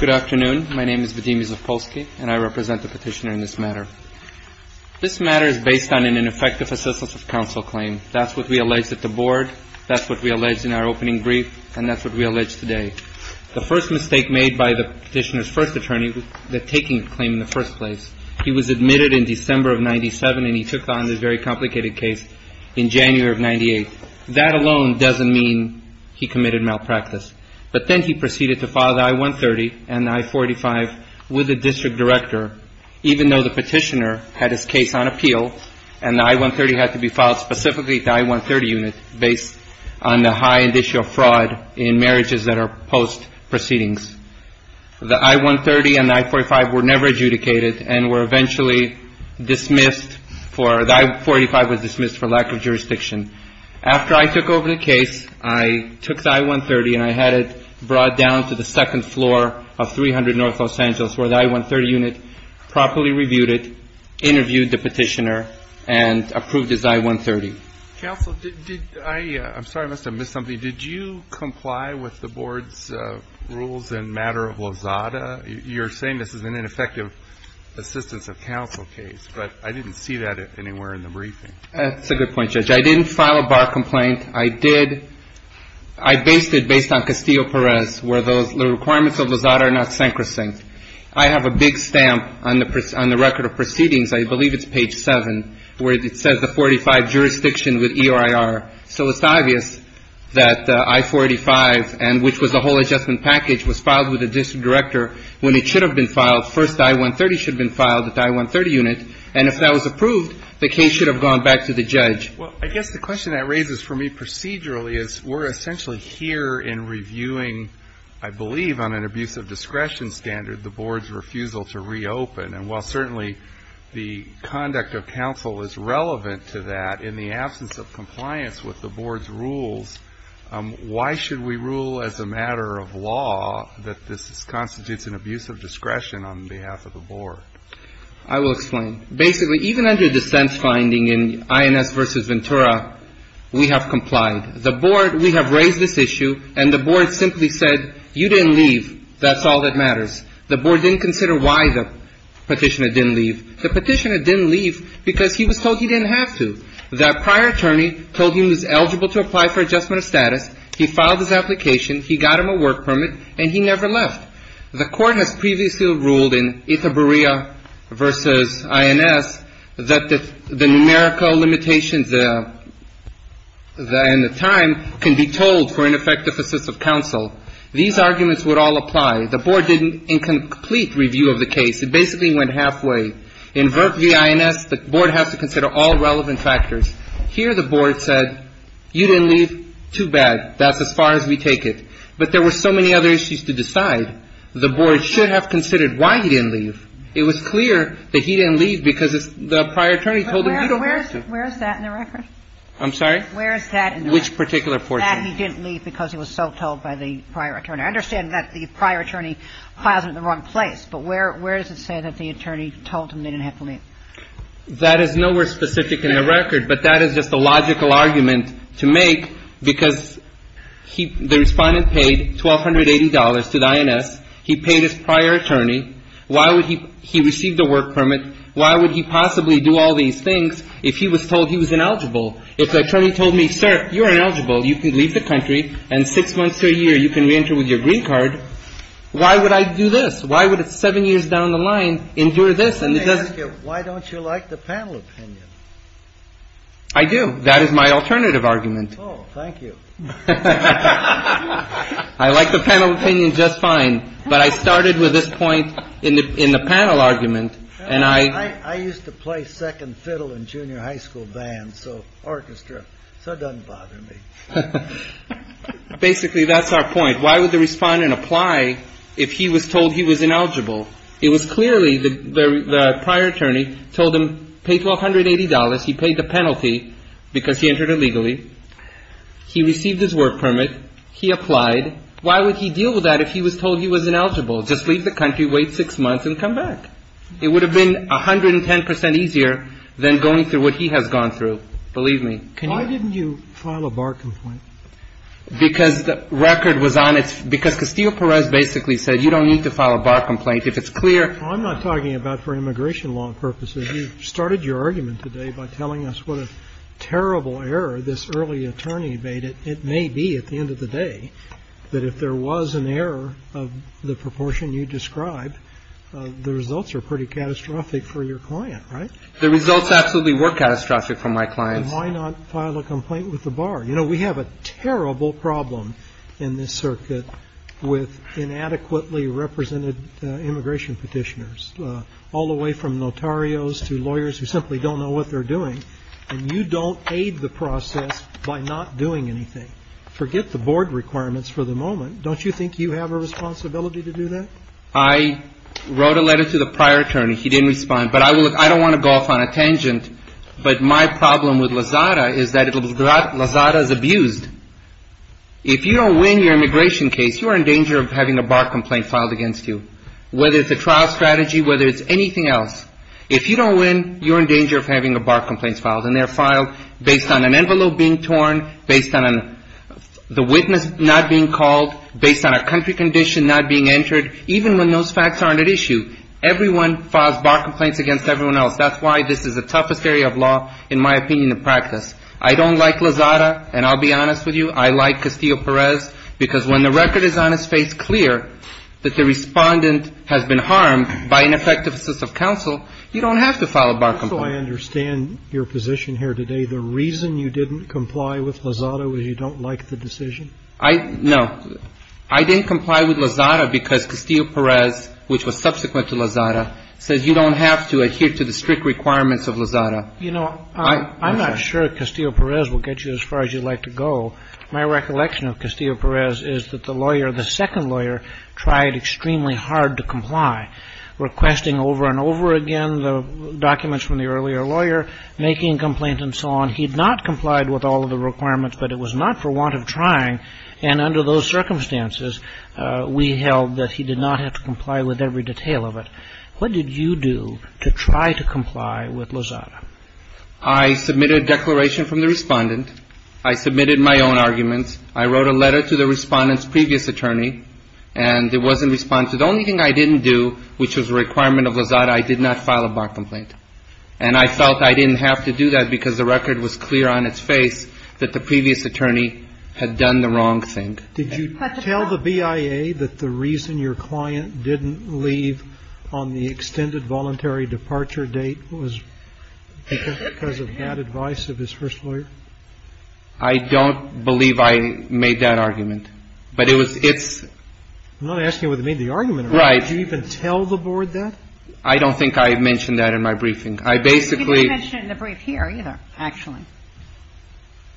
Good afternoon. My name is Vadim Izetkoski and I represent the petitioner in this matter. This matter is based on an ineffective assistance of counsel claim. That's what we alleged at the board, that's what we alleged in our opening brief, and that's what we alleged today. The first mistake made by the petitioner's first attorney was taking the claim in the first place. He was admitted in December of 1997 and he took on this very complicated case in January of 1998. That alone doesn't mean he committed malpractice. But then he proceeded to file the I-130 and the I-485 with the district director, even though the petitioner had his case on appeal and the I-130 had to be filed specifically at the I-130 unit based on the high and initial fraud in marriages that are post-proceedings. The I-130 and the I-485 were never adjudicated and were eventually dismissed for, the I-485 was dismissed for lack of jurisdiction. After I took over the case, I took the I-130 and I had it brought down to the second floor of 300 North Los Angeles, where the I-130 unit properly reviewed it, interviewed the petitioner, and approved his I-130. Counsel, did I – I'm sorry, I must have missed something. Did you comply with the board's rules in matter of Lozada? You're saying this is an ineffective assistance of counsel case, but I didn't see that anywhere in the briefing. That's a good point, Judge. I didn't file a bar complaint. I did – I based it based on Castillo-Perez, where the requirements of Lozada are not sacrosanct. I have a big stamp on the record of proceedings, I believe it's page 7, where it says the 485 jurisdiction with ERIR. So it's obvious that the I-485, and which was the whole adjustment package, was filed with the district director when it should have been filed. First, the I-130 should have been filed at the I-130 unit, and if that was approved, the case should have gone back to the judge. Well, I guess the question that raises for me procedurally is we're essentially here in reviewing, I believe, on an abuse of discretion standard, the board's refusal to reopen. And while certainly the conduct of counsel is relevant to that, in the absence of compliance with the board's rules, why should we rule as a matter of law that this constitutes an abuse of discretion on behalf of the board? I will explain. Basically, even under dissent finding in INS versus Ventura, we have complied. The board, we have raised this issue, and the board simply said, you didn't leave, that's all that matters. The board didn't consider why the petitioner didn't leave. The petitioner didn't leave because he was told he didn't have to. That prior attorney told him he was eligible to apply for adjustment of status, he filed his application, he got him a work permit, and he never left. The court has previously ruled in Itaburia versus INS that the numerical limitations and the time can be told for ineffective assist of counsel. These arguments would all apply. The board did an incomplete review of the case. It basically went halfway. In VRT v. INS, the board has to consider all relevant factors. Here the board said, you didn't leave, too bad, that's as far as we take it. But there were so many other issues to decide. The board should have considered why he didn't leave. It was clear that he didn't leave because the prior attorney told him he didn't have to. Where is that in the record? I'm sorry? Where is that in the record? Which particular portion? That he didn't leave because he was so told by the prior attorney. I understand that the prior attorney filed him in the wrong place, but where does it say that the attorney told him they didn't have to leave? That is nowhere specific in the record, but that is just a logical argument to make because the Respondent paid $1,280 to the INS. He paid his prior attorney. Why would he – he received a work permit. Why would he possibly do all these things if he was told he was ineligible? If the attorney told me, sir, you're ineligible, you can leave the country, and six months to a year you can reenter with your green card, why would I do this? Why would a seven years down the line endure this? And it doesn't – Why don't you like the panel opinion? I do. That is my alternative argument. Oh, thank you. I like the panel opinion just fine, but I started with this point in the panel argument, and I – I used to play second fiddle in junior high school bands, so orchestra, so it doesn't bother me. Basically, that's our point. Why would the Respondent apply if he was told he was ineligible? It was clearly the prior attorney told him, pay $1,280. He paid the $1,280. He received his work permit. He applied. Why would he deal with that if he was told he was ineligible? Just leave the country, wait six months, and come back. It would have been 110 percent easier than going through what he has gone through. Believe me. Why didn't you file a bar complaint? Because the record was on its – because Castillo-Perez basically said, you don't need to file a bar complaint if it's clear. I'm not talking about for immigration law purposes. You started your argument today by telling us what a terrible error this early attorney made. It may be, at the end of the day, that if there was an error of the proportion you described, the results are pretty catastrophic for your client, right? The results absolutely were catastrophic for my client. Then why not file a complaint with the bar? You know, we have a terrible problem in this circuit with inadequately represented immigration petitioners, all the way from notarios to lawyers who simply don't know what they're doing, and you don't aid the process by not doing anything. Forget the board requirements for the moment. Don't you think you have a responsibility to do that? I wrote a letter to the prior attorney. He didn't respond. But I will – I don't want to go off on a tangent, but my problem with Lozada is that Lozada is abused. If you don't win your immigration case, you are in danger of having a bar complaint filed against you, whether it's a trial strategy, whether it's anything else. If you don't win, you're in danger of having a bar complaint filed, and they're filed based on an envelope being torn, based on the witness not being called, based on a country condition not being entered, even when those facts aren't at issue. Everyone files bar complaints against everyone else. That's why this is the toughest area of law, in my opinion, in practice. I don't like Lozada, and I'll be honest with you, I like Castillo-Perez, because when the record is on its face clear that the Respondent has been harmed by an effective assist of counsel, you don't have to file a bar complaint. So I understand your position here today. The reason you didn't comply with Lozada was you don't like the decision? I – no. I didn't comply with Lozada because Castillo-Perez, which was subsequent to Lozada, says you don't have to adhere to the strict requirements of Lozada. You know, I'm not sure Castillo-Perez will get you as far as you'd like to go. My recollection of Castillo-Perez is that the lawyer, the second lawyer, tried extremely hard to comply, requesting over and over again the documents from the earlier lawyer, making a complaint and so on. He had not complied with all of the requirements, but it was not for want of trying, and under those circumstances, we held that he did not have to comply with every detail of it. What did you do to try to comply with Lozada? I submitted a declaration from the respondent. I submitted my own arguments. I wrote a letter to the respondent's previous attorney, and it wasn't responsive. The only thing I didn't do, which was a requirement of Lozada, I did not file a bar complaint. And I felt I didn't have to do that because the record was clear on its face that the previous attorney had done the wrong thing. Did you tell the BIA that the reason your client didn't leave on the extended voluntary departure date was because of bad advice of his first lawyer? I don't believe I made that argument. But it was its – I'm not asking you whether you made the argument. Right. Did you even tell the Board that? I don't think I mentioned that in my briefing. I basically – You didn't mention it in the brief here, either, actually.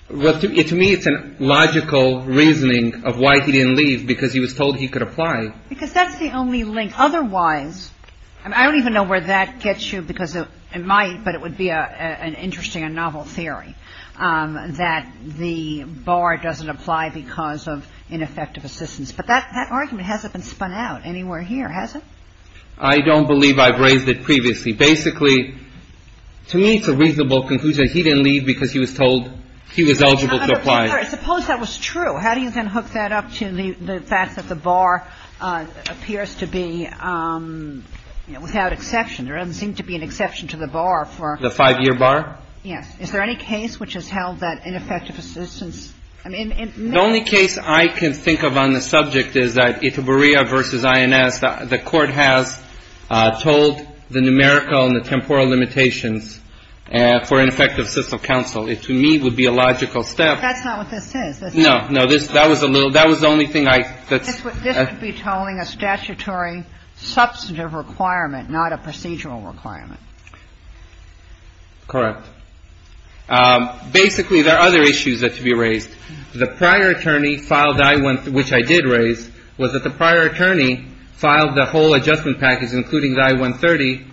Well, to me, it's a logical reasoning of why he didn't leave, because he was told he could apply. Because that's the only link. Otherwise, I don't even know where that gets you, because it might, but it would be an interesting and novel theory, that the bar doesn't apply because of ineffective assistance. But that argument hasn't been spun out anywhere here, has it? I don't believe I've raised it previously. Basically, to me, it's a reasonable conclusion that he didn't leave because he was told he was eligible to apply. Suppose that was true. How do you then hook that up to the fact that the bar appears to be, without exception, there doesn't seem to be an exception to the bar for – The five-year bar? Yes. Is there any case which has held that ineffective assistance – The only case I can think of on the subject is that Itaburia v. INS, the Court has told the numerical and the temporal limitations for ineffective system counsel. It, to me, would be a logical step. That's not what this is. No. No. That was a little – that was the only thing I – This would be tolling a statutory substantive requirement, not a procedural requirement. Correct. Basically, there are other issues that should be raised. The prior attorney filed – which I did raise – was that the prior attorney filed the whole adjustment package, including the I-130,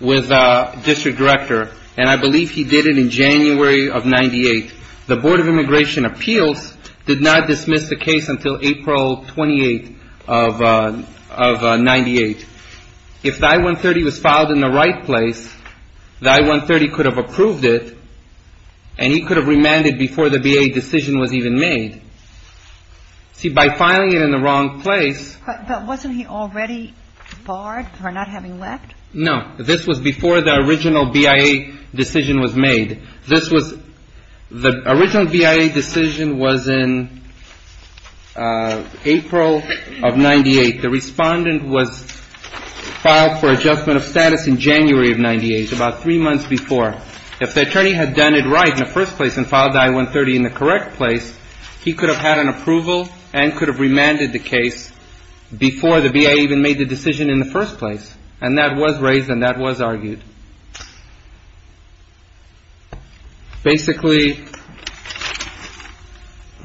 with the district director. And I believe he did it in April of 1998. If the I-130 was filed in the right place, the I-130 could have approved it, and he could have remanded before the BIA decision was even made. See, by filing it in the wrong place – But wasn't he already barred for not having left? No. This was before the original BIA decision was made. This was – the original BIA decision was in April of 1998. The respondent was filed for adjustment of status in January of 1998, about three months before. If the attorney had done it right in the first place and filed the I-130 in the correct place, he could have had an approval and could have remanded the case before the BIA even made the decision in the first place. And that was raised and that was argued. Basically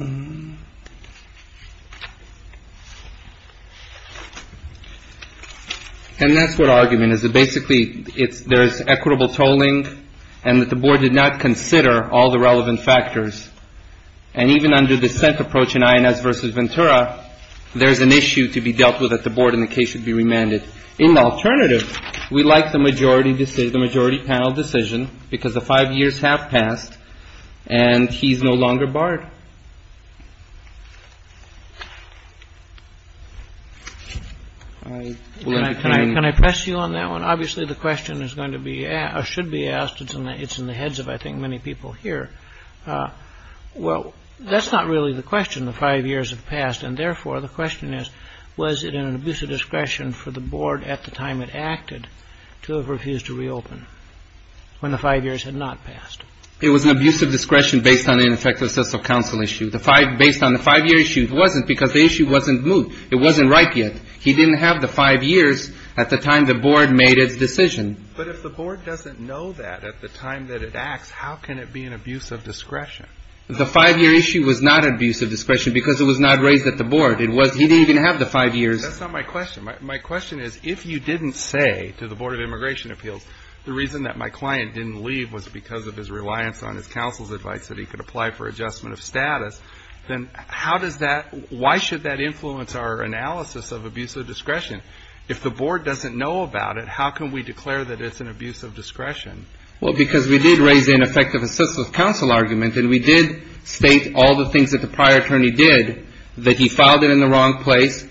– and that's what argument is. Basically, there is equitable tolling and that the Board did not consider all the relevant factors. And even under the SENT approach in INS v. Ventura, there's an issue to be dealt with that the Board and the case should be remanded. In the alternative, we like the majority panel decision because the five years have passed and he's no longer barred. Can I press you on that one? Obviously, the question is going to be – or should be asked. It's in the heads of, I think, many people here. Well, that's not really the question, the five years have passed. And therefore, the question is, was it an abusive discretion for the Board at the time it acted to have refused to reopen when the five years had not passed? It was an abusive discretion based on the ineffective sense of counsel issue. Based on the five-year issue, it wasn't because the issue wasn't moved. It wasn't right yet. He didn't have the five years at the time the Board made its decision. But if the Board doesn't know that at the time that it acts, how can it be an abusive discretion? The five-year issue was not an abusive discretion because it was not raised at the Board. It was – he didn't even have the five years. That's not my question. My question is, if you didn't say to the Board of Immigration Appeals, the reason that my client didn't leave was because of his reliance on his counsel's advice that he could apply for adjustment of status, then how does that – why should that influence our analysis of abusive discretion? If the Board doesn't know about it, how can we declare that it's an abusive discretion? Well, because we did raise the ineffective assistance of counsel argument, and we did state all the things that the prior attorney did, that he filed it in the wrong place,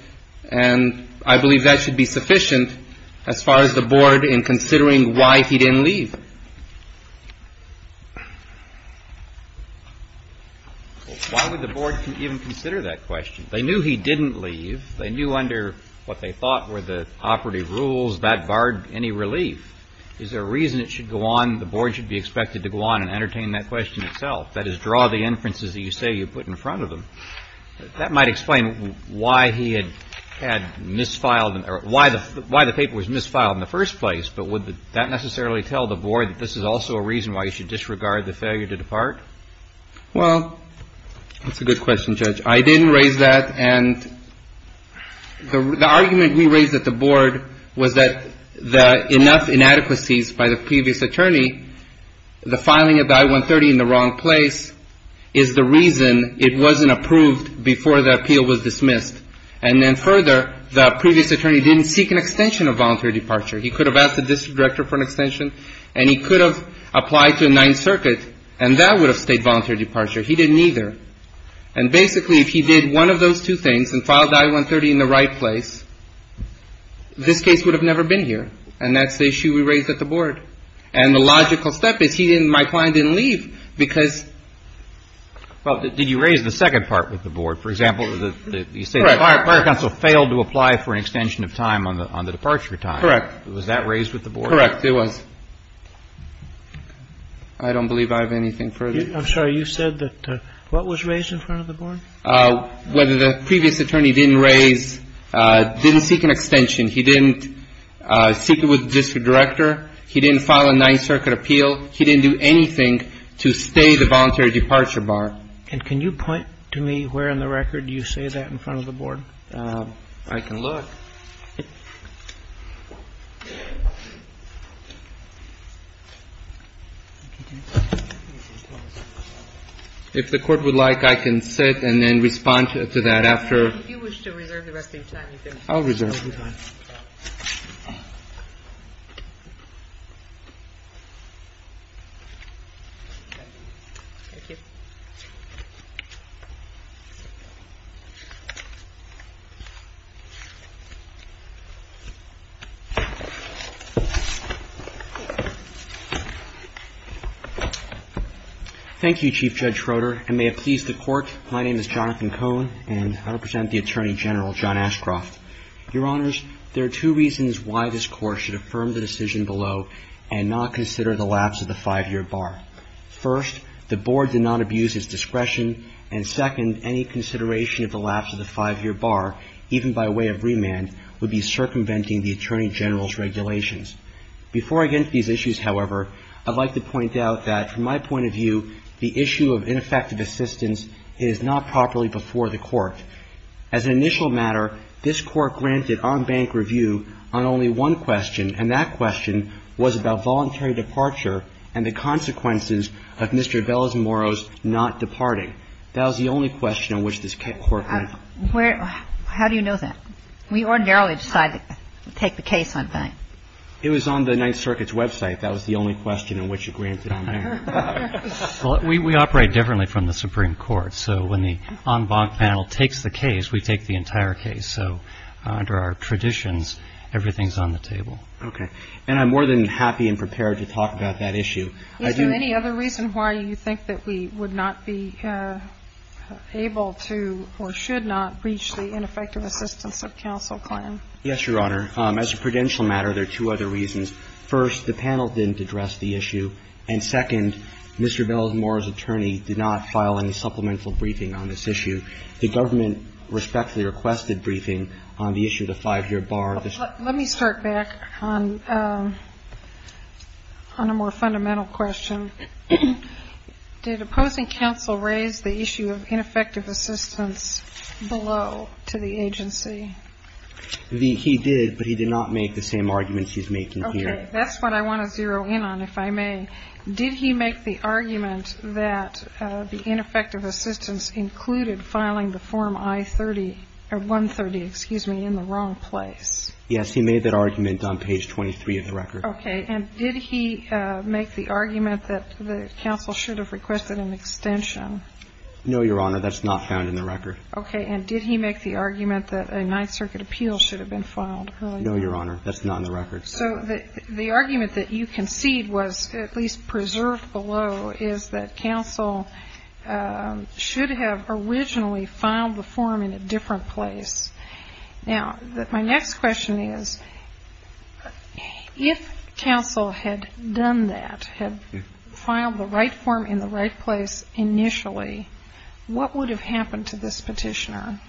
and I believe that should be sufficient as far as the Board in considering why he didn't leave. Why would the Board even consider that question? They knew he didn't leave. They knew under what they thought were the operative rules, that barred any relief. Is there a reason it should go on – the Board should be expected to go on and entertain that question itself, that is, draw the inferences that you say you put in front of them? That might explain why he had misfiled – or why the – why the paper was misfiled in the first place, but would that necessarily tell the Board that this is also a reason why he should disregard the failure to depart? Well, that's a good question, Judge. I didn't raise that, and the argument we raised at the Board was that the – enough inadequacies by the previous attorney, the filing of the I-130 in the wrong place is the reason it wasn't approved before the appeal was dismissed. And then further, the previous attorney didn't seek an extension of voluntary departure. He could have asked the district director for an extension, and he could have applied to a Ninth Circuit, and that would have stayed voluntary departure. He didn't either. And basically, if he did one of those two things and filed the I-130 in the right place, this case would have never been here, and that's the issue we raised at the Board. And the logical step is he didn't – my client didn't leave because – Well, did you raise the second part with the Board? For example, you say the Fire Council failed to apply for an extension of time on the departure time. Correct. Was that raised with the Board? Correct, it was. I don't believe I have anything further. I'm sorry. You said that – what was raised in front of the Board? Whether the previous attorney didn't raise – didn't seek an extension. He didn't seek it with the district director. He didn't file a Ninth Circuit appeal. He didn't do anything to stay the voluntary departure bar. And can you point to me where in the record you say that in front of the Board? I can look. If the Court would like, I can sit and then respond to that after. If you wish to reserve the rest of your time, you can. I'll reserve my time. Thank you. Thank you, Chief Judge Schroeder, and may it please the Court, my name is Jonathan Cohen and I represent the Attorney General, John Ashcroft. Your Honors, there are two reasons why this Court should affirm the decision below and not consider the lapse of the five-year bar. First, the Board did not abuse its discretion, and second, any consideration of the lapse of the five-year bar, even by way of remand, would be circumventing the Attorney General's regulations. Before I get into these issues, however, I'd like to point out that, from my point of view, the issue of ineffective assistance is not properly before the Court. As an initial matter, this Court granted on-bank review on only one question, and that question was about voluntary departure and the consequences of Mr. Bell's and Morrow's not departing. That was the only question on which this Court went. How do you know that? We ordinarily decide to take the case on bank. It was on the Ninth Circuit's website. That was the only question on which it was granted on there. Well, we operate differently from the Supreme Court, so when the on-bank panel takes the case, we take the entire case. So under our traditions, everything's on the table. Okay. And I'm more than happy and prepared to talk about that issue. Is there any other reason why you think that we would not be able to or should not breach the ineffective assistance of counsel plan? Yes, Your Honor. As a prudential matter, there are two other reasons. First, the panel didn't address the issue, and second, Mr. Bell and Morrow's attorney did not file any respectfully requested briefing on the issue of the five-year bar. Let me start back on a more fundamental question. Did opposing counsel raise the issue of ineffective assistance below to the agency? He did, but he did not make the same arguments he's making here. Okay. That's what I want to zero in on, if I may. Did he make the argument that the counsel should have requested an extension of the nine-circuit appeal in the record? No, Your Honor. That's not in the record. Okay. And did he make the argument that a nine-circuit appeal should have been filed early on? No, Your Honor. That's not in the record. So the argument that you concede was at least preserved below is that counsel had done that, had filed the right form in the right place initially, what would have happened to this Petitioner?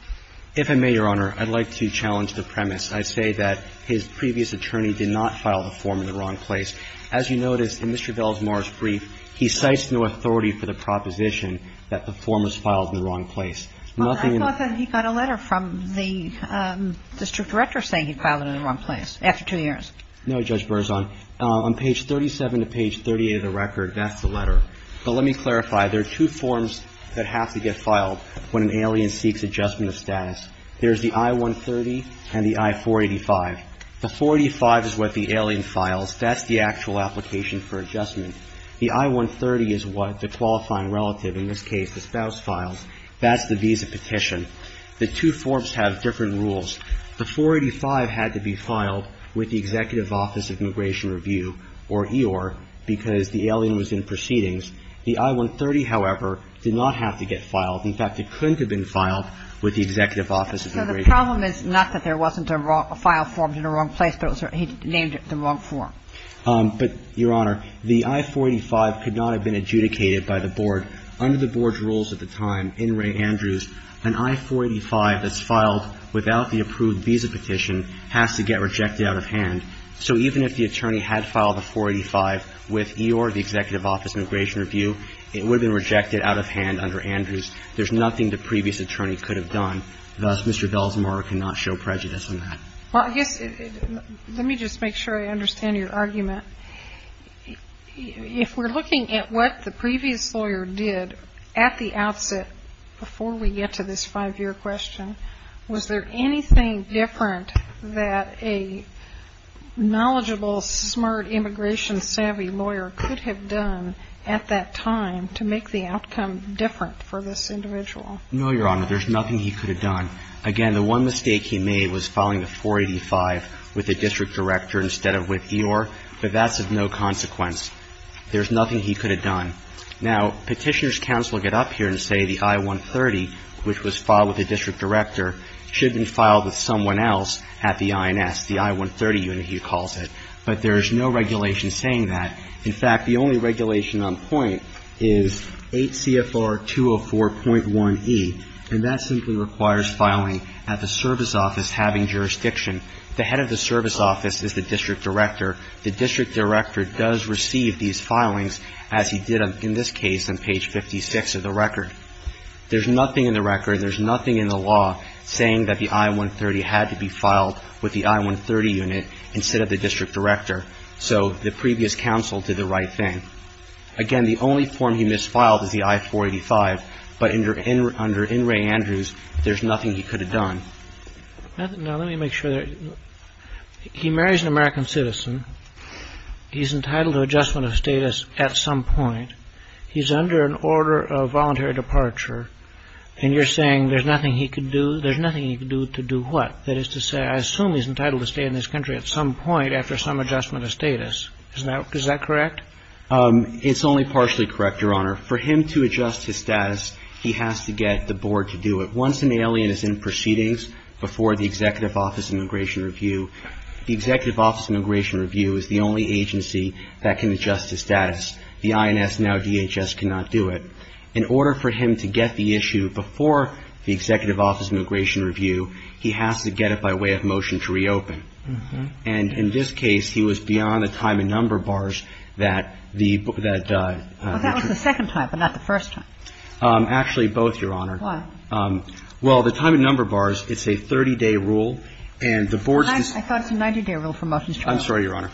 If I may, Your Honor, I'd like to challenge the premise. I say that his previous attorney did not file the form in the wrong place. As you notice, in Mr. Bell and Morrow's brief, he cites no authority for the proposition that the form was filed in the wrong place. Well, I thought that he got a letter from the district director saying he filed it in the wrong place after two years. No, Judge Berzon. On page 37 to page 38 of the record, that's the letter. But let me clarify. There are two forms that have to get filed when an alien seeks adjustment of status. There's the I-130 and the I-485. The 485 is what the alien files. That's the actual application for adjustment. The I-130 is what the qualifying relative, in this case the spouse, files. That's the visa petition. The two forms have different rules. The 485 had to be filed with the Executive Office of Immigration Review or EOIR because the alien was in proceedings. The I-130, however, did not have to get filed. In fact, it couldn't have been filed with the Executive Office of Immigration Review. So the problem is not that there wasn't a file formed in the wrong place, but he named it the wrong form. But, Your Honor, the I-485 could not have been adjudicated by the board. Under the board's rules at the time, in Ray Andrews, an I-485 that's filed without the approved visa petition has to get rejected out of hand. So even if the attorney had filed the 485 with EOIR, the Executive Office of Immigration Review, it would have been rejected out of hand under Andrews. There's nothing the previous attorney could have done. Thus, Mr. Belsenbauer cannot show prejudice on that. Well, I guess let me just make sure I understand your argument. If we're looking at what the previous lawyer did at the outset, before we get to this five-year question, was there anything different that a knowledgeable, smart, immigration savvy lawyer could have done at that time to make the outcome different for this individual? No, Your Honor. There's nothing he could have done. Again, the one mistake he made was filing the 485 with the district director instead of with EOIR, but that's of no consequence. There's nothing he could have done. Now, Petitioner's Counsel will get up here and say the I-130, which was filed with the district director, should have been filed with someone else at the INS, the I-130 unit he calls it. But there is no regulation saying that. In fact, the only regulation on point is 8 CFR 204.1e, and that simply requires filing at the service office having jurisdiction. The head of the service office is the district director. The district director does receive these filings, as he did in this case on page 56 of the record. There's nothing in the record, there's nothing in the law saying that the I-130 had to be filed with the I-130 unit instead of the district director. So the previous counsel did the right thing. Again, the only form he misfiled is the I-485, but under In re Andrews, there's nothing he could have done. Now, let me make sure that he marries an American citizen, he's entitled to adjustment of status at some point, he's under an order of voluntary departure, and you're saying there's nothing he could do? There's nothing he could do to do what? That is to say, I assume he's entitled to stay in this country at some point after some adjustment of status. Is that correct? It's only partially correct, Your Honor. For him to adjust his status, he has to get the board to do it. Once an alien is in proceedings before the Executive Office of Immigration Review, the Executive Office of Immigration Review is the only agency that can adjust his status. The INS, now DHS, cannot do it. In order for him to get the issue before the Executive Office of Immigration Review, he has to get it by way of motion to reopen. And in this case, he was beyond the time and number bars that the ---- Well, that was the second time, but not the first time. Actually, both, Your Honor. Why? Well, the time and number bars, it's a 30-day rule, and the board's ---- I thought it was a 90-day rule for motions to reopen. I'm sorry, Your Honor.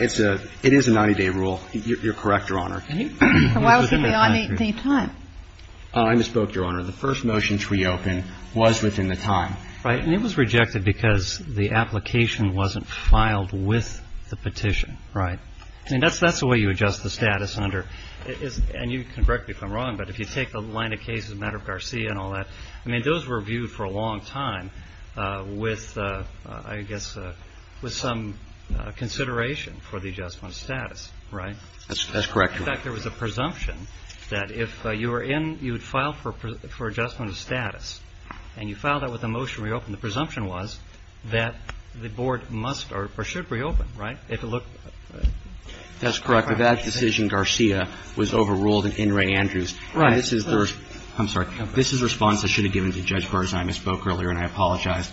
It's a ---- it is a 90-day rule. You're correct, Your Honor. And why was he beyond the time? I misspoke, Your Honor. The first motion to reopen was within the time. Right. And it was rejected because the application wasn't filed with the petition. Right. I mean, that's the way you adjust the status under ---- and you can correct me if I'm I mean, those were viewed for a long time with, I guess, with some consideration for the adjustment of status. Right? That's correct. In fact, there was a presumption that if you were in, you would file for adjustment of status, and you filed that with a motion to reopen. The presumption was that the board must or should reopen. Right? If it looked ---- That's correct. That decision, Garcia, was overruled in In re Andrews. Right. This is the ---- I'm sorry. This is the response I should have given to Judge Berzheim. I misspoke earlier, and I apologize.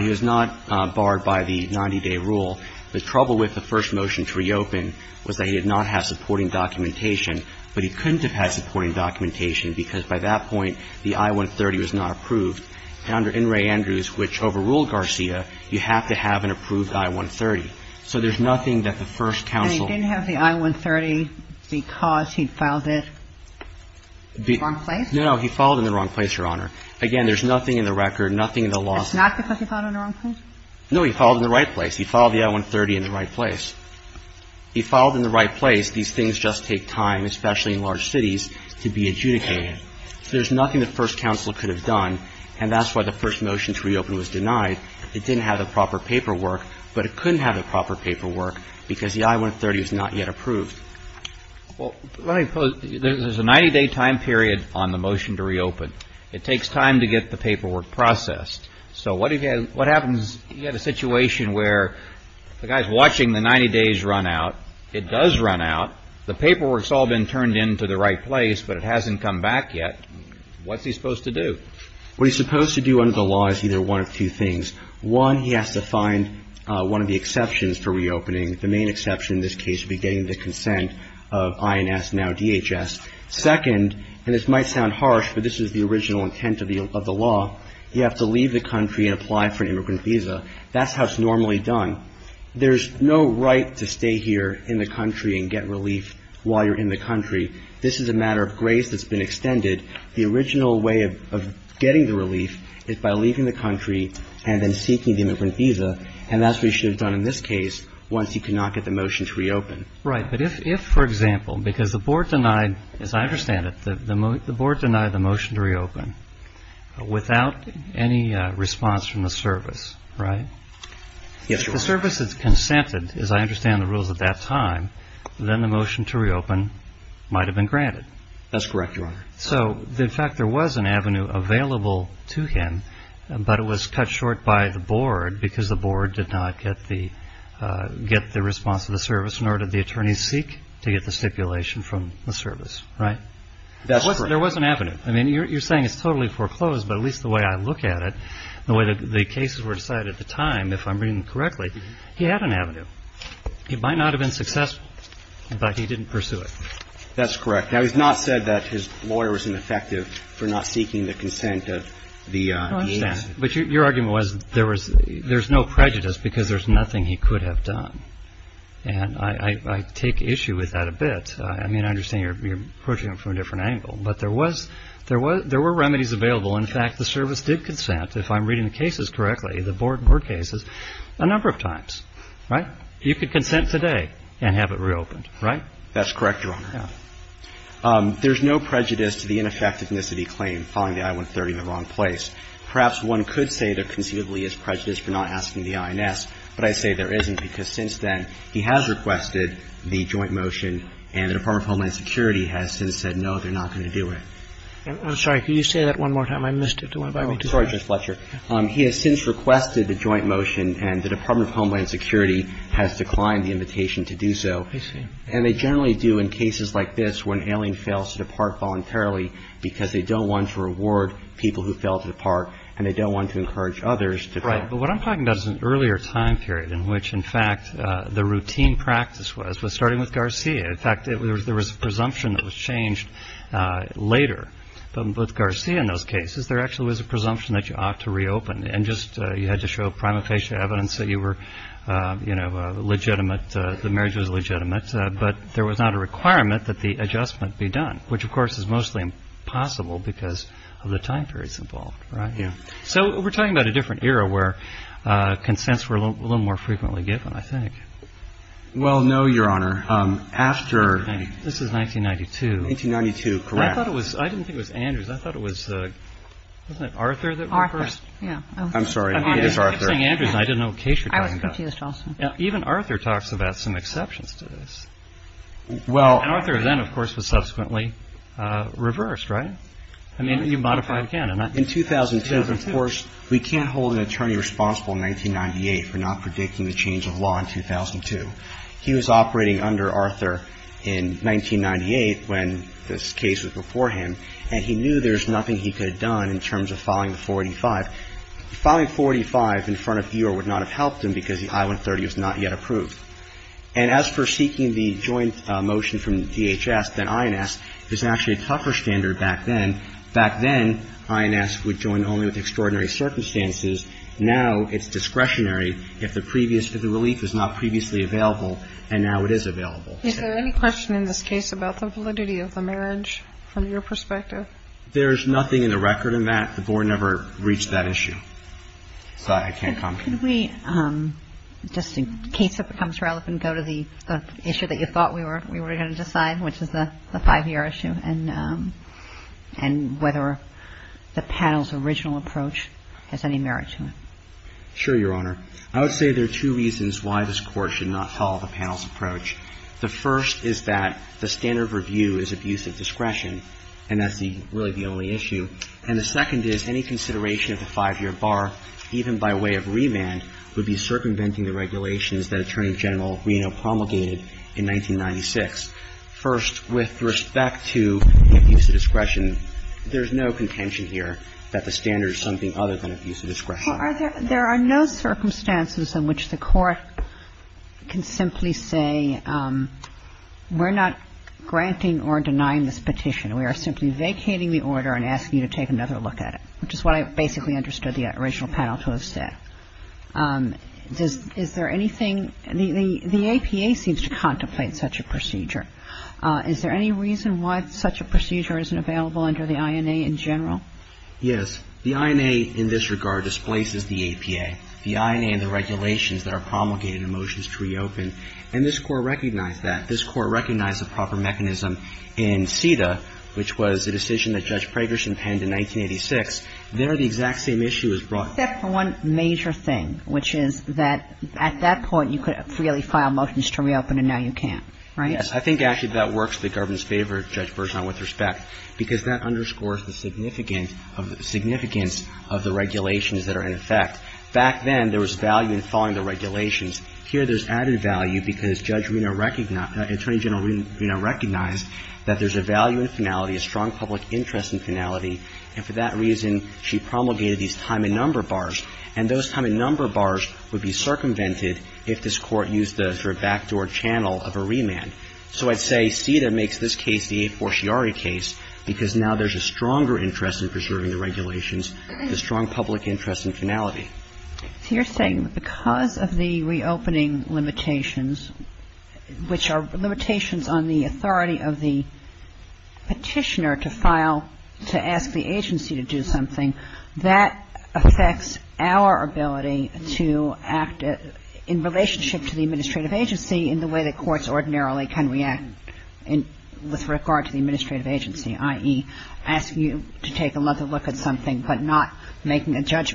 He was not barred by the 90-day rule. The trouble with the first motion to reopen was that he did not have supporting documentation, but he couldn't have had supporting documentation because by that point, the I-130 was not approved. And under In re Andrews, which overruled Garcia, you have to have an approved I-130. So there's nothing that the first counsel ---- And he didn't have the I-130 because he'd filed it? In the wrong place? No, no. He filed it in the wrong place, Your Honor. Again, there's nothing in the record, nothing in the law. That's not because he filed it in the wrong place? No, he filed it in the right place. He filed the I-130 in the right place. He filed it in the right place. These things just take time, especially in large cities, to be adjudicated. So there's nothing the first counsel could have done, and that's why the first motion to reopen was denied. It didn't have the proper paperwork, but it couldn't have the proper paperwork because the I-130 was not yet approved. Well, let me pose, there's a 90-day time period on the motion to reopen. It takes time to get the paperwork processed. So what happens if you have a situation where the guy's watching the 90 days run out, it does run out, the paperwork's all been turned in to the right place, but it hasn't come back yet, what's he supposed to do? What he's supposed to do under the law is either one of two things. One, he has to find one of the exceptions for reopening. The main exception in this case would be getting the consent of INS, now DHS. Second, and this might sound harsh, but this is the original intent of the law, you have to leave the country and apply for an immigrant visa. That's how it's normally done. There's no right to stay here in the country and get relief while you're in the country. This is a matter of grace that's been extended. The original way of getting the relief is by leaving the country and then seeking the immigrant visa, and that's what you should have done in this case once you could not get the motion to reopen. Right, but if, for example, because the board denied, as I understand it, the board denied the motion to reopen without any response from the service, right? Yes, Your Honor. If the service has consented, as I understand the rules at that time, then the motion to reopen might have been granted. That's correct, Your Honor. So, in fact, there was an avenue available to him, but it was cut short by the board because the board did not get the response of the service, nor did the attorneys seek to get the stipulation from the service, right? That's correct. There was an avenue. I mean, you're saying it's totally foreclosed, but at least the way I look at it, the way that the cases were decided at the time, if I'm reading correctly, he had an avenue. It might not have been successful, but he didn't pursue it. That's correct. Now, he's not said that his lawyer was ineffective for not seeking the consent of the agency. I understand. But your argument was there was no prejudice because there's nothing he could have done. And I take issue with that a bit. I mean, I understand you're approaching it from a different angle. But there was – there were remedies available. In fact, the service did consent, if I'm reading the cases correctly, the board cases, a number of times, right? You could consent today and have it reopened, right? That's correct, Your Honor. There's no prejudice to the ineffectiveness of the claim following the I-130 in the wrong place. Perhaps one could say there conceivably is prejudice for not asking the INS, but I say there isn't because since then he has requested the joint motion and the Department of Homeland Security has since said, no, they're not going to do it. I'm sorry. Could you say that one more time? I missed it. Do you want to go back? I'm sorry, Judge Fletcher. He has since requested the joint motion and the Department of Homeland Security has declined the invitation to do so. I see. And they generally do in cases like this when ailing fails to depart voluntarily because they don't want to reward people who fail to depart and they don't want to encourage others to depart. Right. But what I'm talking about is an earlier time period in which, in fact, the routine practice was, was starting with Garcia. In fact, there was a presumption that was changed later. But with Garcia in those cases, there actually was a presumption that you ought to reopen and just you had to show prima facie evidence that you were, you know, legitimate, the marriage was legitimate. But there was not a requirement that the adjustment be done, which, of course, is mostly impossible because of the time periods involved. Right. So we're talking about a different era where consents were a little more frequently given, I think. Well, no, Your Honor. After. This is 1992. 1992. Correct. I thought it was. I didn't think it was Andrews. I thought it was. Wasn't it Arthur that reversed? Arthur. Yeah. I'm sorry. It is Arthur. I didn't know what case you're talking about. I was confused also. Even Arthur talks about some exceptions to this. Well. And Arthur then, of course, was subsequently reversed, right? I mean, you modify the canon. In 2002, of course, we can't hold an attorney responsible in 1998 for not predicting the change of law in 2002. He was operating under Arthur in 1998 when this case was before him, and he knew there was nothing he could have done in terms of filing the 485. Filing 485 in front of Eeyore would not have helped him because the I-130 was not yet approved. And as for seeking the joint motion from DHS, then INS, there's actually a tougher standard back then. Back then, INS would join only with extraordinary circumstances. Now it's discretionary if the previous relief is not previously available, and now it is available. Is there any question in this case about the validity of the marriage from your perspective? There's nothing in the record on that. The board never reached that issue, so I can't comment. Could we, just in case it becomes relevant, go to the issue that you thought we were going to decide, which is the five-year issue, and whether the panel's original approach has any merit to it? Sure, Your Honor. I would say there are two reasons why this Court should not follow the panel's approach. The first is that the standard of review is abuse of discretion, and that's really the only issue. And the second is any consideration of the five-year bar, even by way of remand, would be circumventing the regulations that Attorney General Reno promulgated in 1996. First, with respect to abuse of discretion, there's no contention here that the standard is something other than abuse of discretion. There are no circumstances in which the Court can simply say we're not granting or denying this petition. We are simply vacating the order and asking you to take another look at it, which is what I basically understood the original panel to have said. Is there anything the APA seems to contemplate such a procedure? Is there any reason why such a procedure isn't available under the INA in general? Yes. The INA in this regard displaces the APA. The INA and the regulations that are promulgated in Motions to Reopen, and this Court recognized that. In CETA, which was a decision that Judge Pragerson penned in 1986, there the exact same issue was brought. Except for one major thing, which is that at that point you could freely file Motions to Reopen, and now you can't, right? Yes. I think actually that works in the government's favor, Judge Bergeron, with respect, because that underscores the significance of the regulations that are in effect. Back then there was value in following the regulations. Here there's added value because Judge Reno recognized, Attorney General Reno recognized that there's a value in finality, a strong public interest in finality, and for that reason she promulgated these time and number bars, and those time and number bars would be circumvented if this Court used the sort of backdoor channel of a remand. So I'd say CETA makes this case the a forciari case because now there's a stronger interest in preserving the regulations, the strong public interest in finality. So you're saying that because of the reopening limitations, which are limitations on the authority of the Petitioner to file, to ask the agency to do something, that affects our ability to act in relationship to the administrative agency in the way that courts ordinarily can react with regard to the administrative agency, i.e., the Petitioner. Is that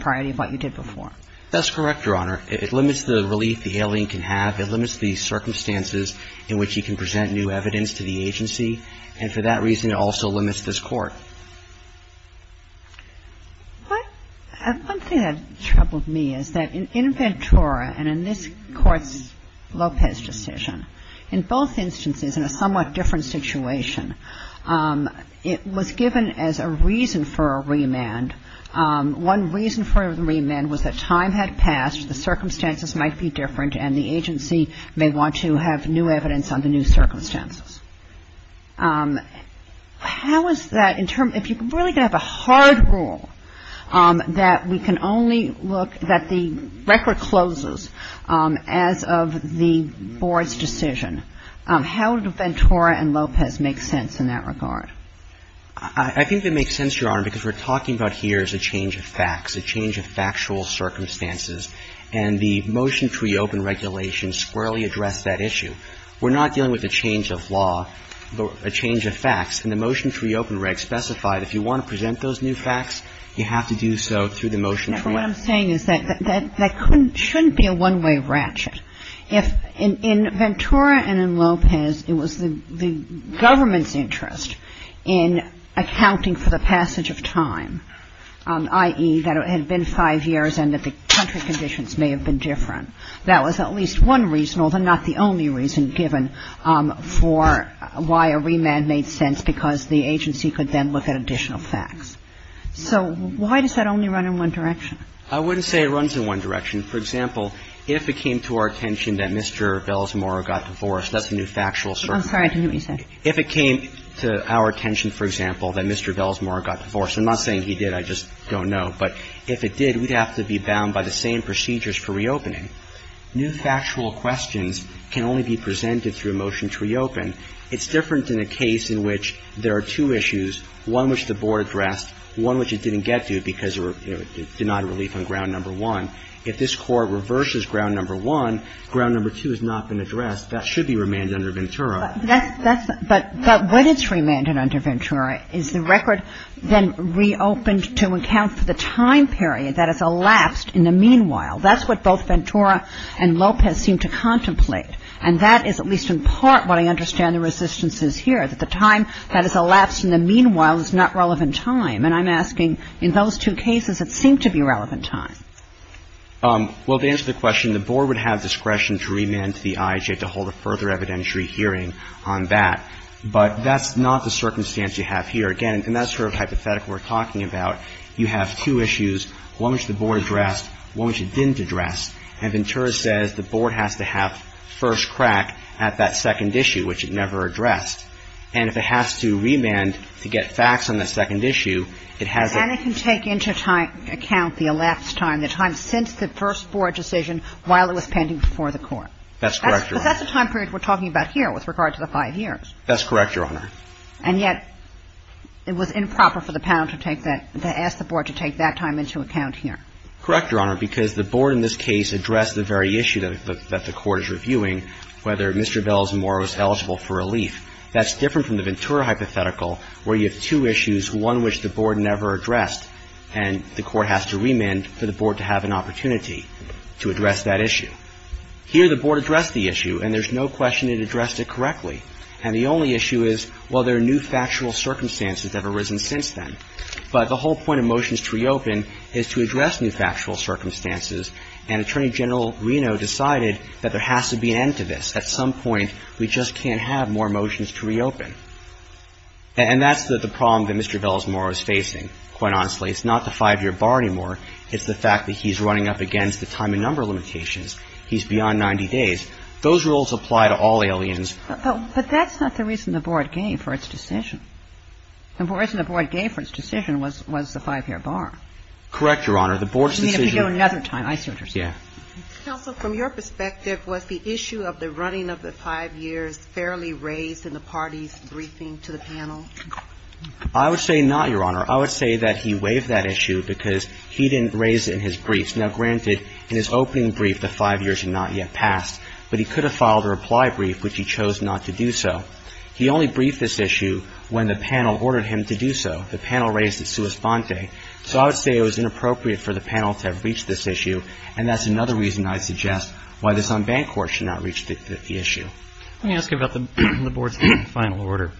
correct, Your Honor? That's correct, Your Honor. It limits the relief the alien can have. It limits the circumstances in which he can present new evidence to the agency, and for that reason it also limits this Court. But one thing that troubled me is that in Ventura and in this Court's Lopez decision, in both instances, in a somewhat different situation, it was the Petitioner that was given as a reason for a remand. One reason for the remand was that time had passed, the circumstances might be different, and the agency may want to have new evidence on the new circumstances. How is that in terms of if you're really going to have a hard rule that we can only look that the record closes as of the Board's decision, how do Ventura and Lopez make sense in that regard? I think they make sense, Your Honor, because we're talking about here is a change of facts, a change of factual circumstances. And the motion to reopen regulation squarely addressed that issue. We're not dealing with a change of law, but a change of facts. And the motion to reopen reg specified if you want to present those new facts, you have to do so through the motion to reopen. What I'm saying is that that shouldn't be a one-way ratchet. In Ventura and in Lopez, it was the government's interest in accounting for the passage of time, i.e., that it had been five years and that the country conditions may have been different. That was at least one reason, although not the only reason, given for why a remand made sense because the agency could then look at additional facts. So why does that only run in one direction? I wouldn't say it runs in one direction. For example, if it came to our attention that Mr. Belsmore got divorced, that's a new factual circumstance. I'm sorry. I didn't hear what you said. If it came to our attention, for example, that Mr. Belsmore got divorced. I'm not saying he did. I just don't know. But if it did, we'd have to be bound by the same procedures for reopening. New factual questions can only be presented through a motion to reopen. It's different in a case in which there are two issues, one which the board addressed, one which it didn't get to because it did not have relief on ground number one. If this Court reverses ground number one, ground number two has not been addressed. That should be remanded under Ventura. But when it's remanded under Ventura, is the record then reopened to account for the time period that has elapsed in the meanwhile? That's what both Ventura and Lopez seem to contemplate. And that is at least in part what I understand the resistance is here, that the time that has elapsed in the meanwhile is not relevant time. And I'm asking, in those two cases, it seemed to be relevant time. Well, to answer the question, the board would have discretion to remand to the IHA to hold a further evidentiary hearing on that. But that's not the circumstance you have here. Again, and that's sort of the hypothetical we're talking about. You have two issues, one which the board addressed, one which it didn't address. And Ventura says the board has to have first crack at that second issue, which it never addressed. And if it has to remand to get facts on the second issue, it has to be remanded. So the board has to take into account the elapsed time, the time since the first board decision while it was pending before the Court. That's correct, Your Honor. But that's the time period we're talking about here with regard to the five years. That's correct, Your Honor. And yet it was improper for the panel to take that, to ask the board to take that time into account here. Correct, Your Honor, because the board in this case addressed the very issue that the Court is reviewing, whether Mr. Bell's morrow is eligible for relief. That's different from the Ventura hypothetical where you have two issues, one which the board never addressed, and the Court has to remand for the board to have an opportunity to address that issue. Here the board addressed the issue, and there's no question it addressed it correctly. And the only issue is, well, there are new factual circumstances that have arisen since then. But the whole point of motions to reopen is to address new factual circumstances, and Attorney General Reno decided that there has to be an end to this. At some point, we just can't have more motions to reopen. And that's the problem that Mr. Bell's morrow is facing, quite honestly. It's not the five-year bar anymore. It's the fact that he's running up against the time and number limitations. He's beyond 90 days. Those rules apply to all aliens. But that's not the reason the board gave for its decision. The reason the board gave for its decision was the five-year bar. Correct, Your Honor. The board's decision was the five-year bar. I see what you're saying. Yes. Counsel, from your perspective, was the issue of the running of the five years fairly raised in the party's briefing to the panel? I would say not, Your Honor. I would say that he waived that issue because he didn't raise it in his briefs. Now, granted, in his opening brief, the five years had not yet passed, but he could have filed a reply brief, which he chose not to do so. He only briefed this issue when the panel ordered him to do so. The panel raised it sua sponte. So I would say it was inappropriate for the panel to have reached this issue, and that's another reason I suggest why this unbanned court should not reach the issue. Let me ask you about the board's final order.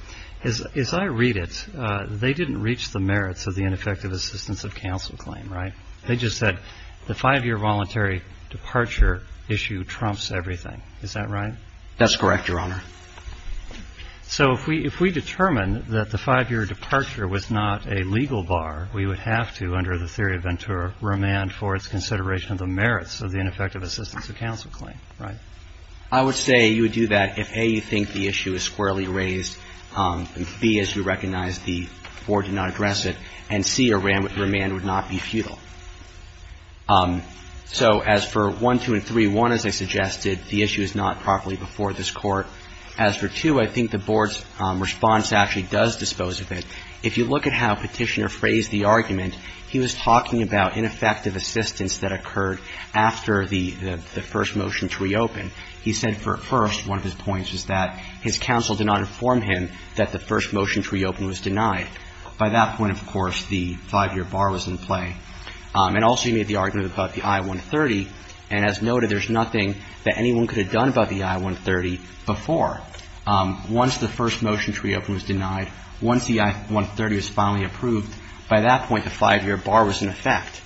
As I read it, they didn't reach the merits of the ineffective assistance of counsel claim, right? They just said the five-year voluntary departure issue trumps everything. Is that right? That's correct, Your Honor. So if we determine that the five-year departure was not a legal bar, we would have to, under the theory of Ventura, remand for its consideration of the merits of the ineffective assistance of counsel claim, right? I would say you would do that if, A, you think the issue is squarely raised, and, B, as you recognize, the board did not address it, and, C, a remand would not be futile. So as for 1, 2, and 3, 1, as I suggested, the issue is not properly before this Court. As for 2, I think the board's response actually does dispose of it. If you look at how Petitioner phrased the argument, he was talking about ineffective assistance that occurred after the first motion to reopen. He said, first, one of his points was that his counsel did not inform him that the first motion to reopen was denied. By that point, of course, the five-year bar was in play. And also he made the argument about the I-130, and as noted, there's nothing that he did before. Once the first motion to reopen was denied, once the I-130 was finally approved, by that point, the five-year bar was in effect.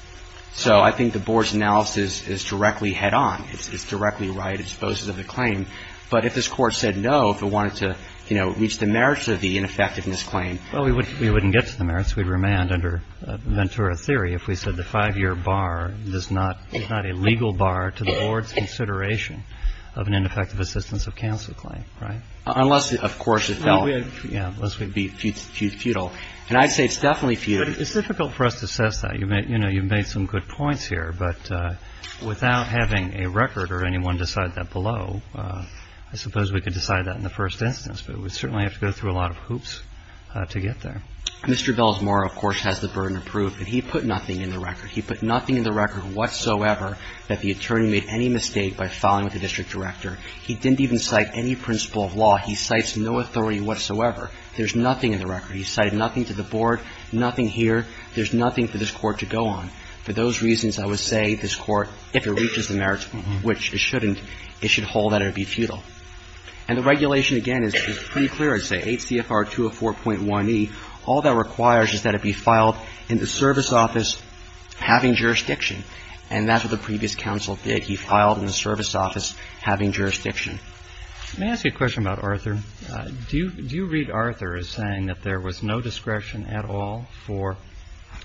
So I think the board's analysis is directly head-on. It's directly right. It disposes of the claim. But if this Court said no, if it wanted to, you know, reach the merits of the ineffectiveness claim. Well, we wouldn't get to the merits. We'd remand under Ventura theory if we said the five-year bar is not a legal bar to the board's consideration of an ineffective assistance of counsel claim, right? Unless, of course, it fell. Yeah. Unless we'd be futile. And I'd say it's definitely futile. But it's difficult for us to assess that. You've made some good points here. But without having a record or anyone decide that below, I suppose we could decide that in the first instance. But we certainly have to go through a lot of hoops to get there. Mr. Belsmore, of course, has the burden of proof. But he put nothing in the record. He put nothing in the record whatsoever that the attorney made any mistake by filing with the district director. He didn't even cite any principle of law. He cites no authority whatsoever. There's nothing in the record. He cited nothing to the board, nothing here. There's nothing for this Court to go on. For those reasons, I would say this Court, if it reaches the merits, which it shouldn't, it should hold that it would be futile. And the regulation, again, is pretty clear. I'd say 8 CFR 204.1e. And that's what the previous counsel did. He filed in the service office having jurisdiction. Let me ask you a question about Arthur. Do you read Arthur as saying that there was no discretion at all for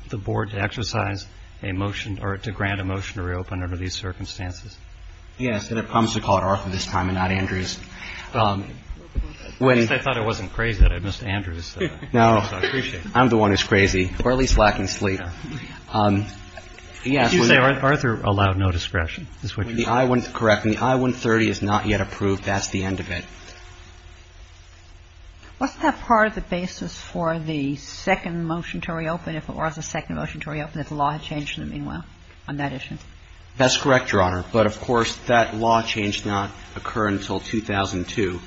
the board to exercise a motion or to grant a motion to reopen under these circumstances? Yes. And I promise to call it Arthur this time and not Andrews. At least I thought I wasn't crazy that I missed Andrews. No. I'm the one who's crazy, or at least lacking sleep. Yes. Did you say Arthur allowed no discretion? The I-130 is not yet approved. That's the end of it. Wasn't that part of the basis for the second motion to reopen, if it was the second motion to reopen, if the law had changed in the meanwhile on that issue? That's correct, Your Honor. But, of course, that law changed not occurring until 2002.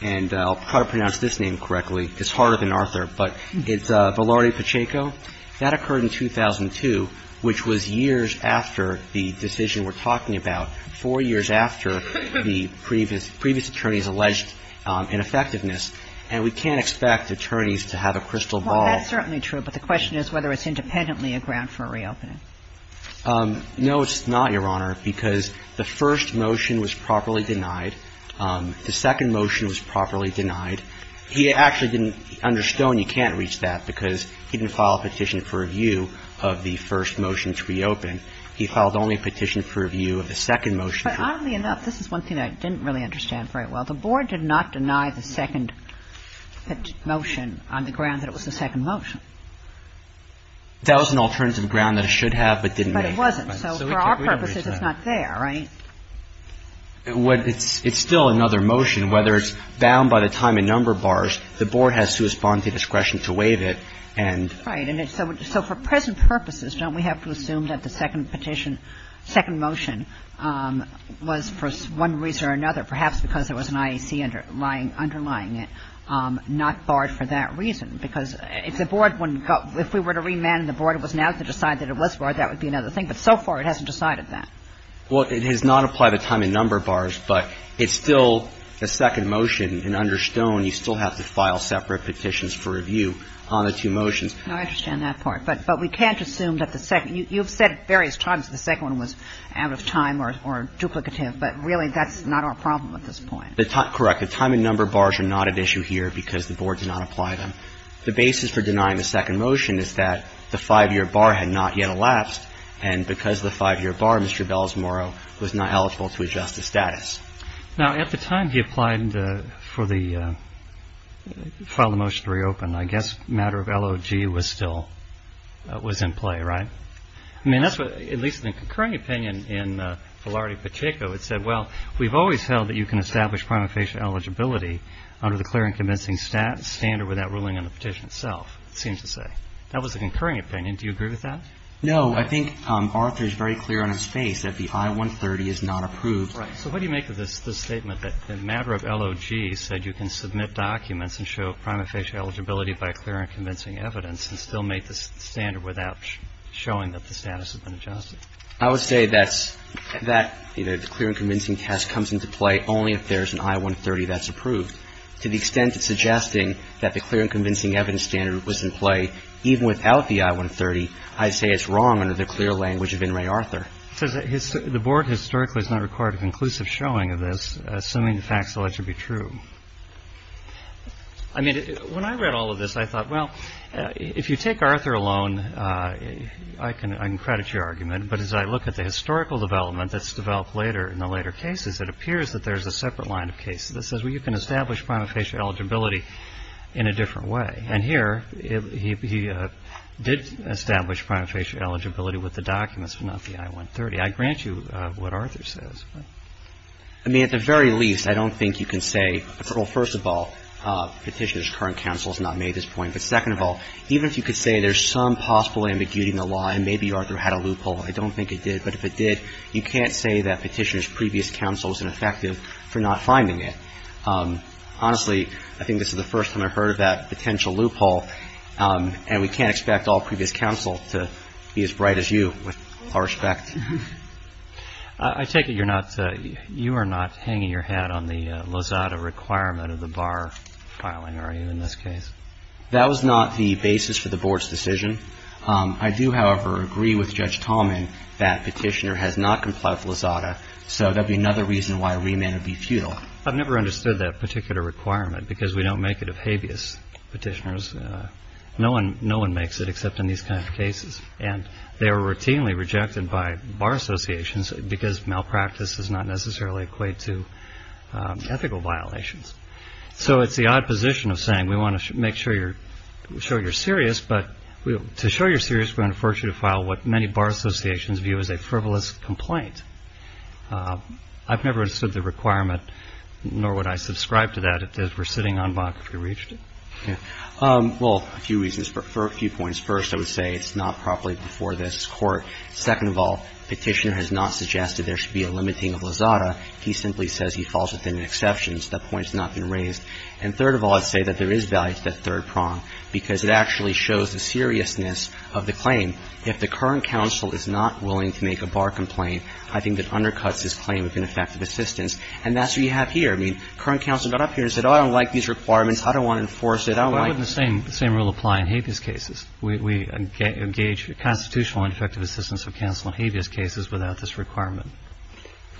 And I'll try to pronounce this name correctly. It's harder than Arthur. But it's Velarde-Pacheco. That occurred in 2002, which was years after the decision we're talking about, four years after the previous attorneys alleged ineffectiveness. And we can't expect attorneys to have a crystal ball. Well, that's certainly true. But the question is whether it's independently a ground for a reopening. No, it's not, Your Honor, because the first motion was properly denied. The second motion was properly denied. He actually didn't understand you can't reach that because he didn't file a petition for review of the first motion to reopen. He filed only a petition for review of the second motion. But oddly enough, this is one thing I didn't really understand very well. The Board did not deny the second motion on the ground that it was the second motion. That was an alternative ground that it should have but didn't make it. But it wasn't. So for our purposes, it's not there, right? It's still another motion. Whether it's bound by the time a number bars, the Board has to respond to discretion to waive it. Right. So for present purposes, don't we have to assume that the second petition, second motion was for one reason or another, perhaps because there was an IAC underlying it, not barred for that reason? Because if the Board wouldn't go – if we were to remand the Board, it was now to decide that it was barred, that would be another thing. But so far it hasn't decided that. Well, it has not applied the time a number bars. But it's still the second motion. And under Stone, you still have to file separate petitions for review on the two motions. No, I understand that part. But we can't assume that the second – you've said various times the second one was out of time or duplicative. But really, that's not our problem at this point. Correct. The time a number bars are not at issue here because the Board did not apply them. The basis for denying the second motion is that the five-year bar had not yet elapsed. And because of the five-year bar, Mr. Balsamoro was not eligible to adjust the status. Now, at the time he applied for the – filed the motion to reopen, I guess the matter of LOG was still – was in play, right? I mean, that's what – at least in the concurring opinion in Filarity-Pacheco, it said, well, we've always held that you can establish prima facie eligibility under the clear and convincing standard without ruling on the petition itself, it seems to say. That was the concurring opinion. Do you agree with that? No. I think Arthur is very clear on his face that the I-130 is not approved. Right. So what do you make of this statement that the matter of LOG said you can submit documents and show prima facie eligibility by clear and convincing evidence and still make the standard without showing that the status had been adjusted? I would say that's – that, you know, the clear and convincing test comes into play only if there's an I-130 that's approved. To the extent of suggesting that the clear and convincing evidence standard was in play, even without the I-130, I'd say it's wrong under the clear language of In re Arthur. It says the board historically has not required a conclusive showing of this, assuming the facts alleged to be true. I mean, when I read all of this, I thought, well, if you take Arthur alone, I can credit your argument, but as I look at the historical development that's developed later in the later cases, it appears that there's a separate line of cases that says, well, you can establish prima facie eligibility in a different way. And here, he did establish prima facie eligibility with the documents, but not the I-130. I grant you what Arthur says. I mean, at the very least, I don't think you can say, well, first of all, Petitioner's current counsel has not made this point, but second of all, even if you could say there's some possible ambiguity in the law and maybe Arthur had a loophole, I don't think it did, but if it did, you can't say that Petitioner's previous counsel was ineffective for not finding it. Honestly, I think this is the first time I've heard of that potential loophole, and we can't expect all previous counsel to be as bright as you, with all respect. I take it you're not, you are not hanging your hat on the Lozada requirement of the bar filing, are you, in this case? That was not the basis for the Board's decision. I do, however, agree with Judge Tallman that Petitioner has not complied with Lozada, so that would be another reason why a remand would be futile. I've never understood that particular requirement because we don't make it of habeas Petitioners. No one makes it except in these kinds of cases, and they are routinely rejected by bar associations because malpractice does not necessarily equate to ethical violations. So it's the odd position of saying we want to make sure you're serious, but to show you're serious, we're going to force you to file what many bar associations view as a frivolous complaint. I've never understood the requirement, nor would I subscribe to that, if we're sitting on Bach if we reached it. Well, a few reasons. For a few points. First, I would say it's not properly before this Court. Second of all, Petitioner has not suggested there should be a limiting of Lozada. He simply says he falls within the exceptions. That point has not been raised. And third of all, I'd say that there is value to that third prong because it actually shows the seriousness of the claim. If the current counsel is not willing to make a bar complaint, I think that undercuts his claim of ineffective assistance. And that's what you have here. I mean, current counsel got up here and said, oh, I don't like these requirements. I don't want to enforce it. I don't like it. Why wouldn't the same rule apply in habeas cases? We engage constitutional and effective assistance of counsel in habeas cases without this requirement.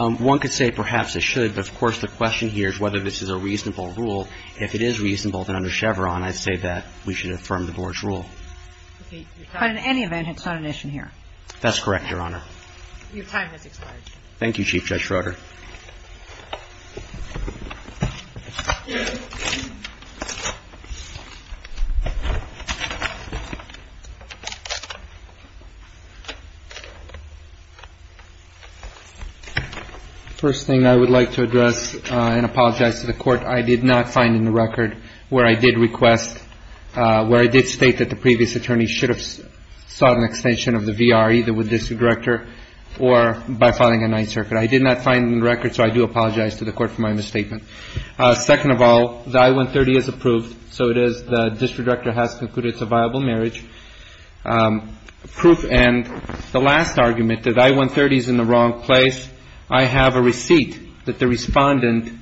One could say perhaps it should, but of course the question here is whether this is a reasonable rule. If it is reasonable, then under Chevron, I'd say that we should affirm the Board's position. But in any event, it's not an issue here. That's correct, Your Honor. Your time has expired. Thank you, Chief Judge Schroeder. First thing I would like to address and apologize to the Court. I did not find in the record where I did request, where I did state that the previous attorney should have sought an extension of the VR, either with the district director or by filing a Ninth Circuit. I did not find in the record, so I do apologize to the Court for my misstatement. Second of all, the I-130 is approved. So it is the district director has concluded it's a viable marriage. Proof and the last argument, the I-130 is in the wrong place. I have a receipt that the Respondent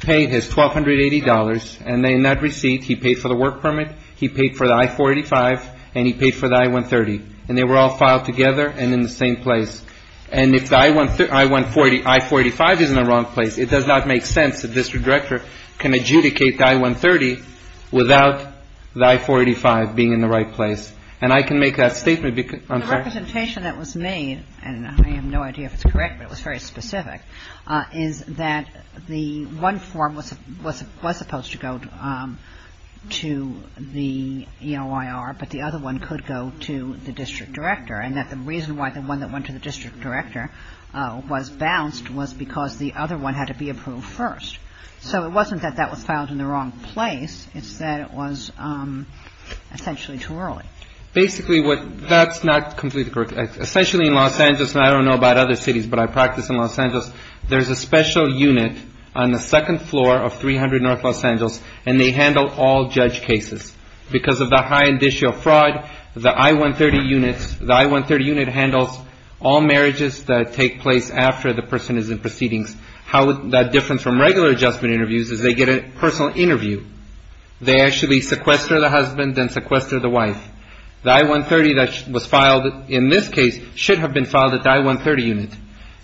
paid his $1,280, and in that receipt he paid for the work permit, he paid for the I-485, and he paid for the I-130. And they were all filed together and in the same place. And if the I-140, I-485 is in the wrong place, it does not make sense that the district director can adjudicate the I-130 without the I-485 being in the right place. So the representation that was made, and I have no idea if it's correct, but it was very specific, is that the one form was supposed to go to the EOIR, but the other one could go to the district director. And that the reason why the one that went to the district director was bounced was because the other one had to be approved first. So it wasn't that that was filed in the wrong place. It's that it was essentially too early. Basically what, that's not completely correct. Essentially in Los Angeles, and I don't know about other cities, but I practice in Los Angeles, there's a special unit on the second floor of 300 North Los Angeles, and they handle all judge cases. Because of the high indicio fraud, the I-130 units, the I-130 unit handles all marriages that take place after the person is in proceedings. How that differs from regular adjustment interviews is they get a personal interview. They actually sequester the husband and sequester the wife. The I-130 that was filed in this case should have been filed at the I-130 unit.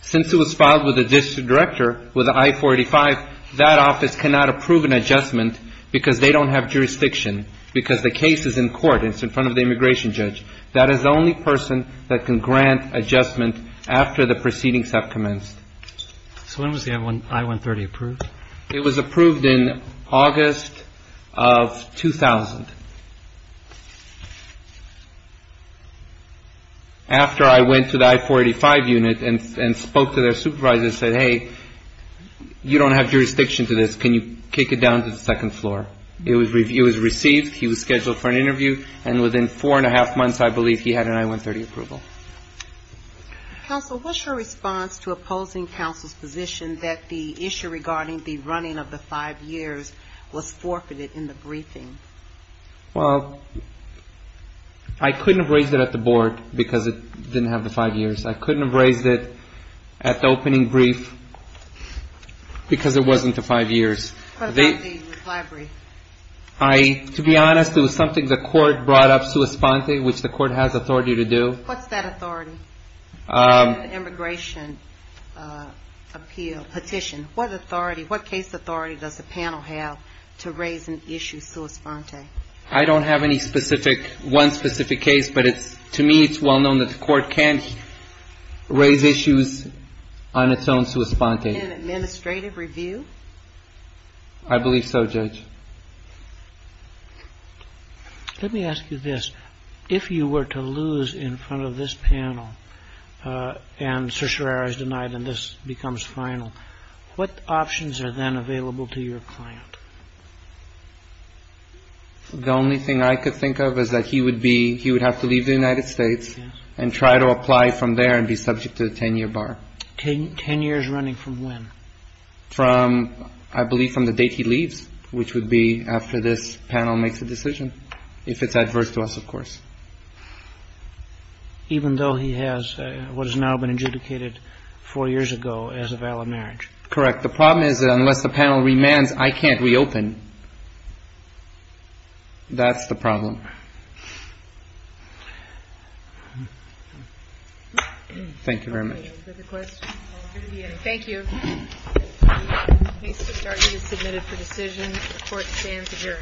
Since it was filed with the district director with the I-45, that office cannot approve an adjustment because they don't have jurisdiction, because the case is in court. It's in front of the immigration judge. That is the only person that can grant adjustment after the proceedings have commenced. So when was the I-130 approved? It was approved in August of 2000. After I went to the I-485 unit and spoke to their supervisor and said, hey, you don't have jurisdiction to this. Can you kick it down to the second floor? It was received. He was scheduled for an interview, and within four and a half months, I believe, he had an I-130 approval. Counsel, what's your response to opposing counsel's position that the issue regarding the running of the five years was forfeited in the briefing? Well, I couldn't have raised it at the board because it didn't have the five years. I couldn't have raised it at the opening brief because it wasn't the five years. What about the library? To be honest, it was something the court brought up sui sponte, which the court has authority to do. What's that authority? In the immigration appeal petition, what authority, what case authority does the panel have to raise an issue sui sponte? I don't have any specific, one specific case, but to me it's well known that the court can raise issues on its own sui sponte. In an administrative review? I believe so, Judge. Let me ask you this. If you were to lose in front of this panel and certiorari is denied and this becomes final, what options are then available to your client? The only thing I could think of is that he would be, he would have to leave the United States and try to apply from there and be subject to a 10-year bar. Ten years running from when? From, I believe, from the date he leaves, which would be after this panel makes a decision, if it's adverse to us, of course. Even though he has what has now been adjudicated four years ago as a valid marriage? Correct. The problem is that unless the panel remands, I can't reopen. That's the problem. Thank you very much. Any further questions? Thank you. The case has been submitted for decision. The court stands adjourned.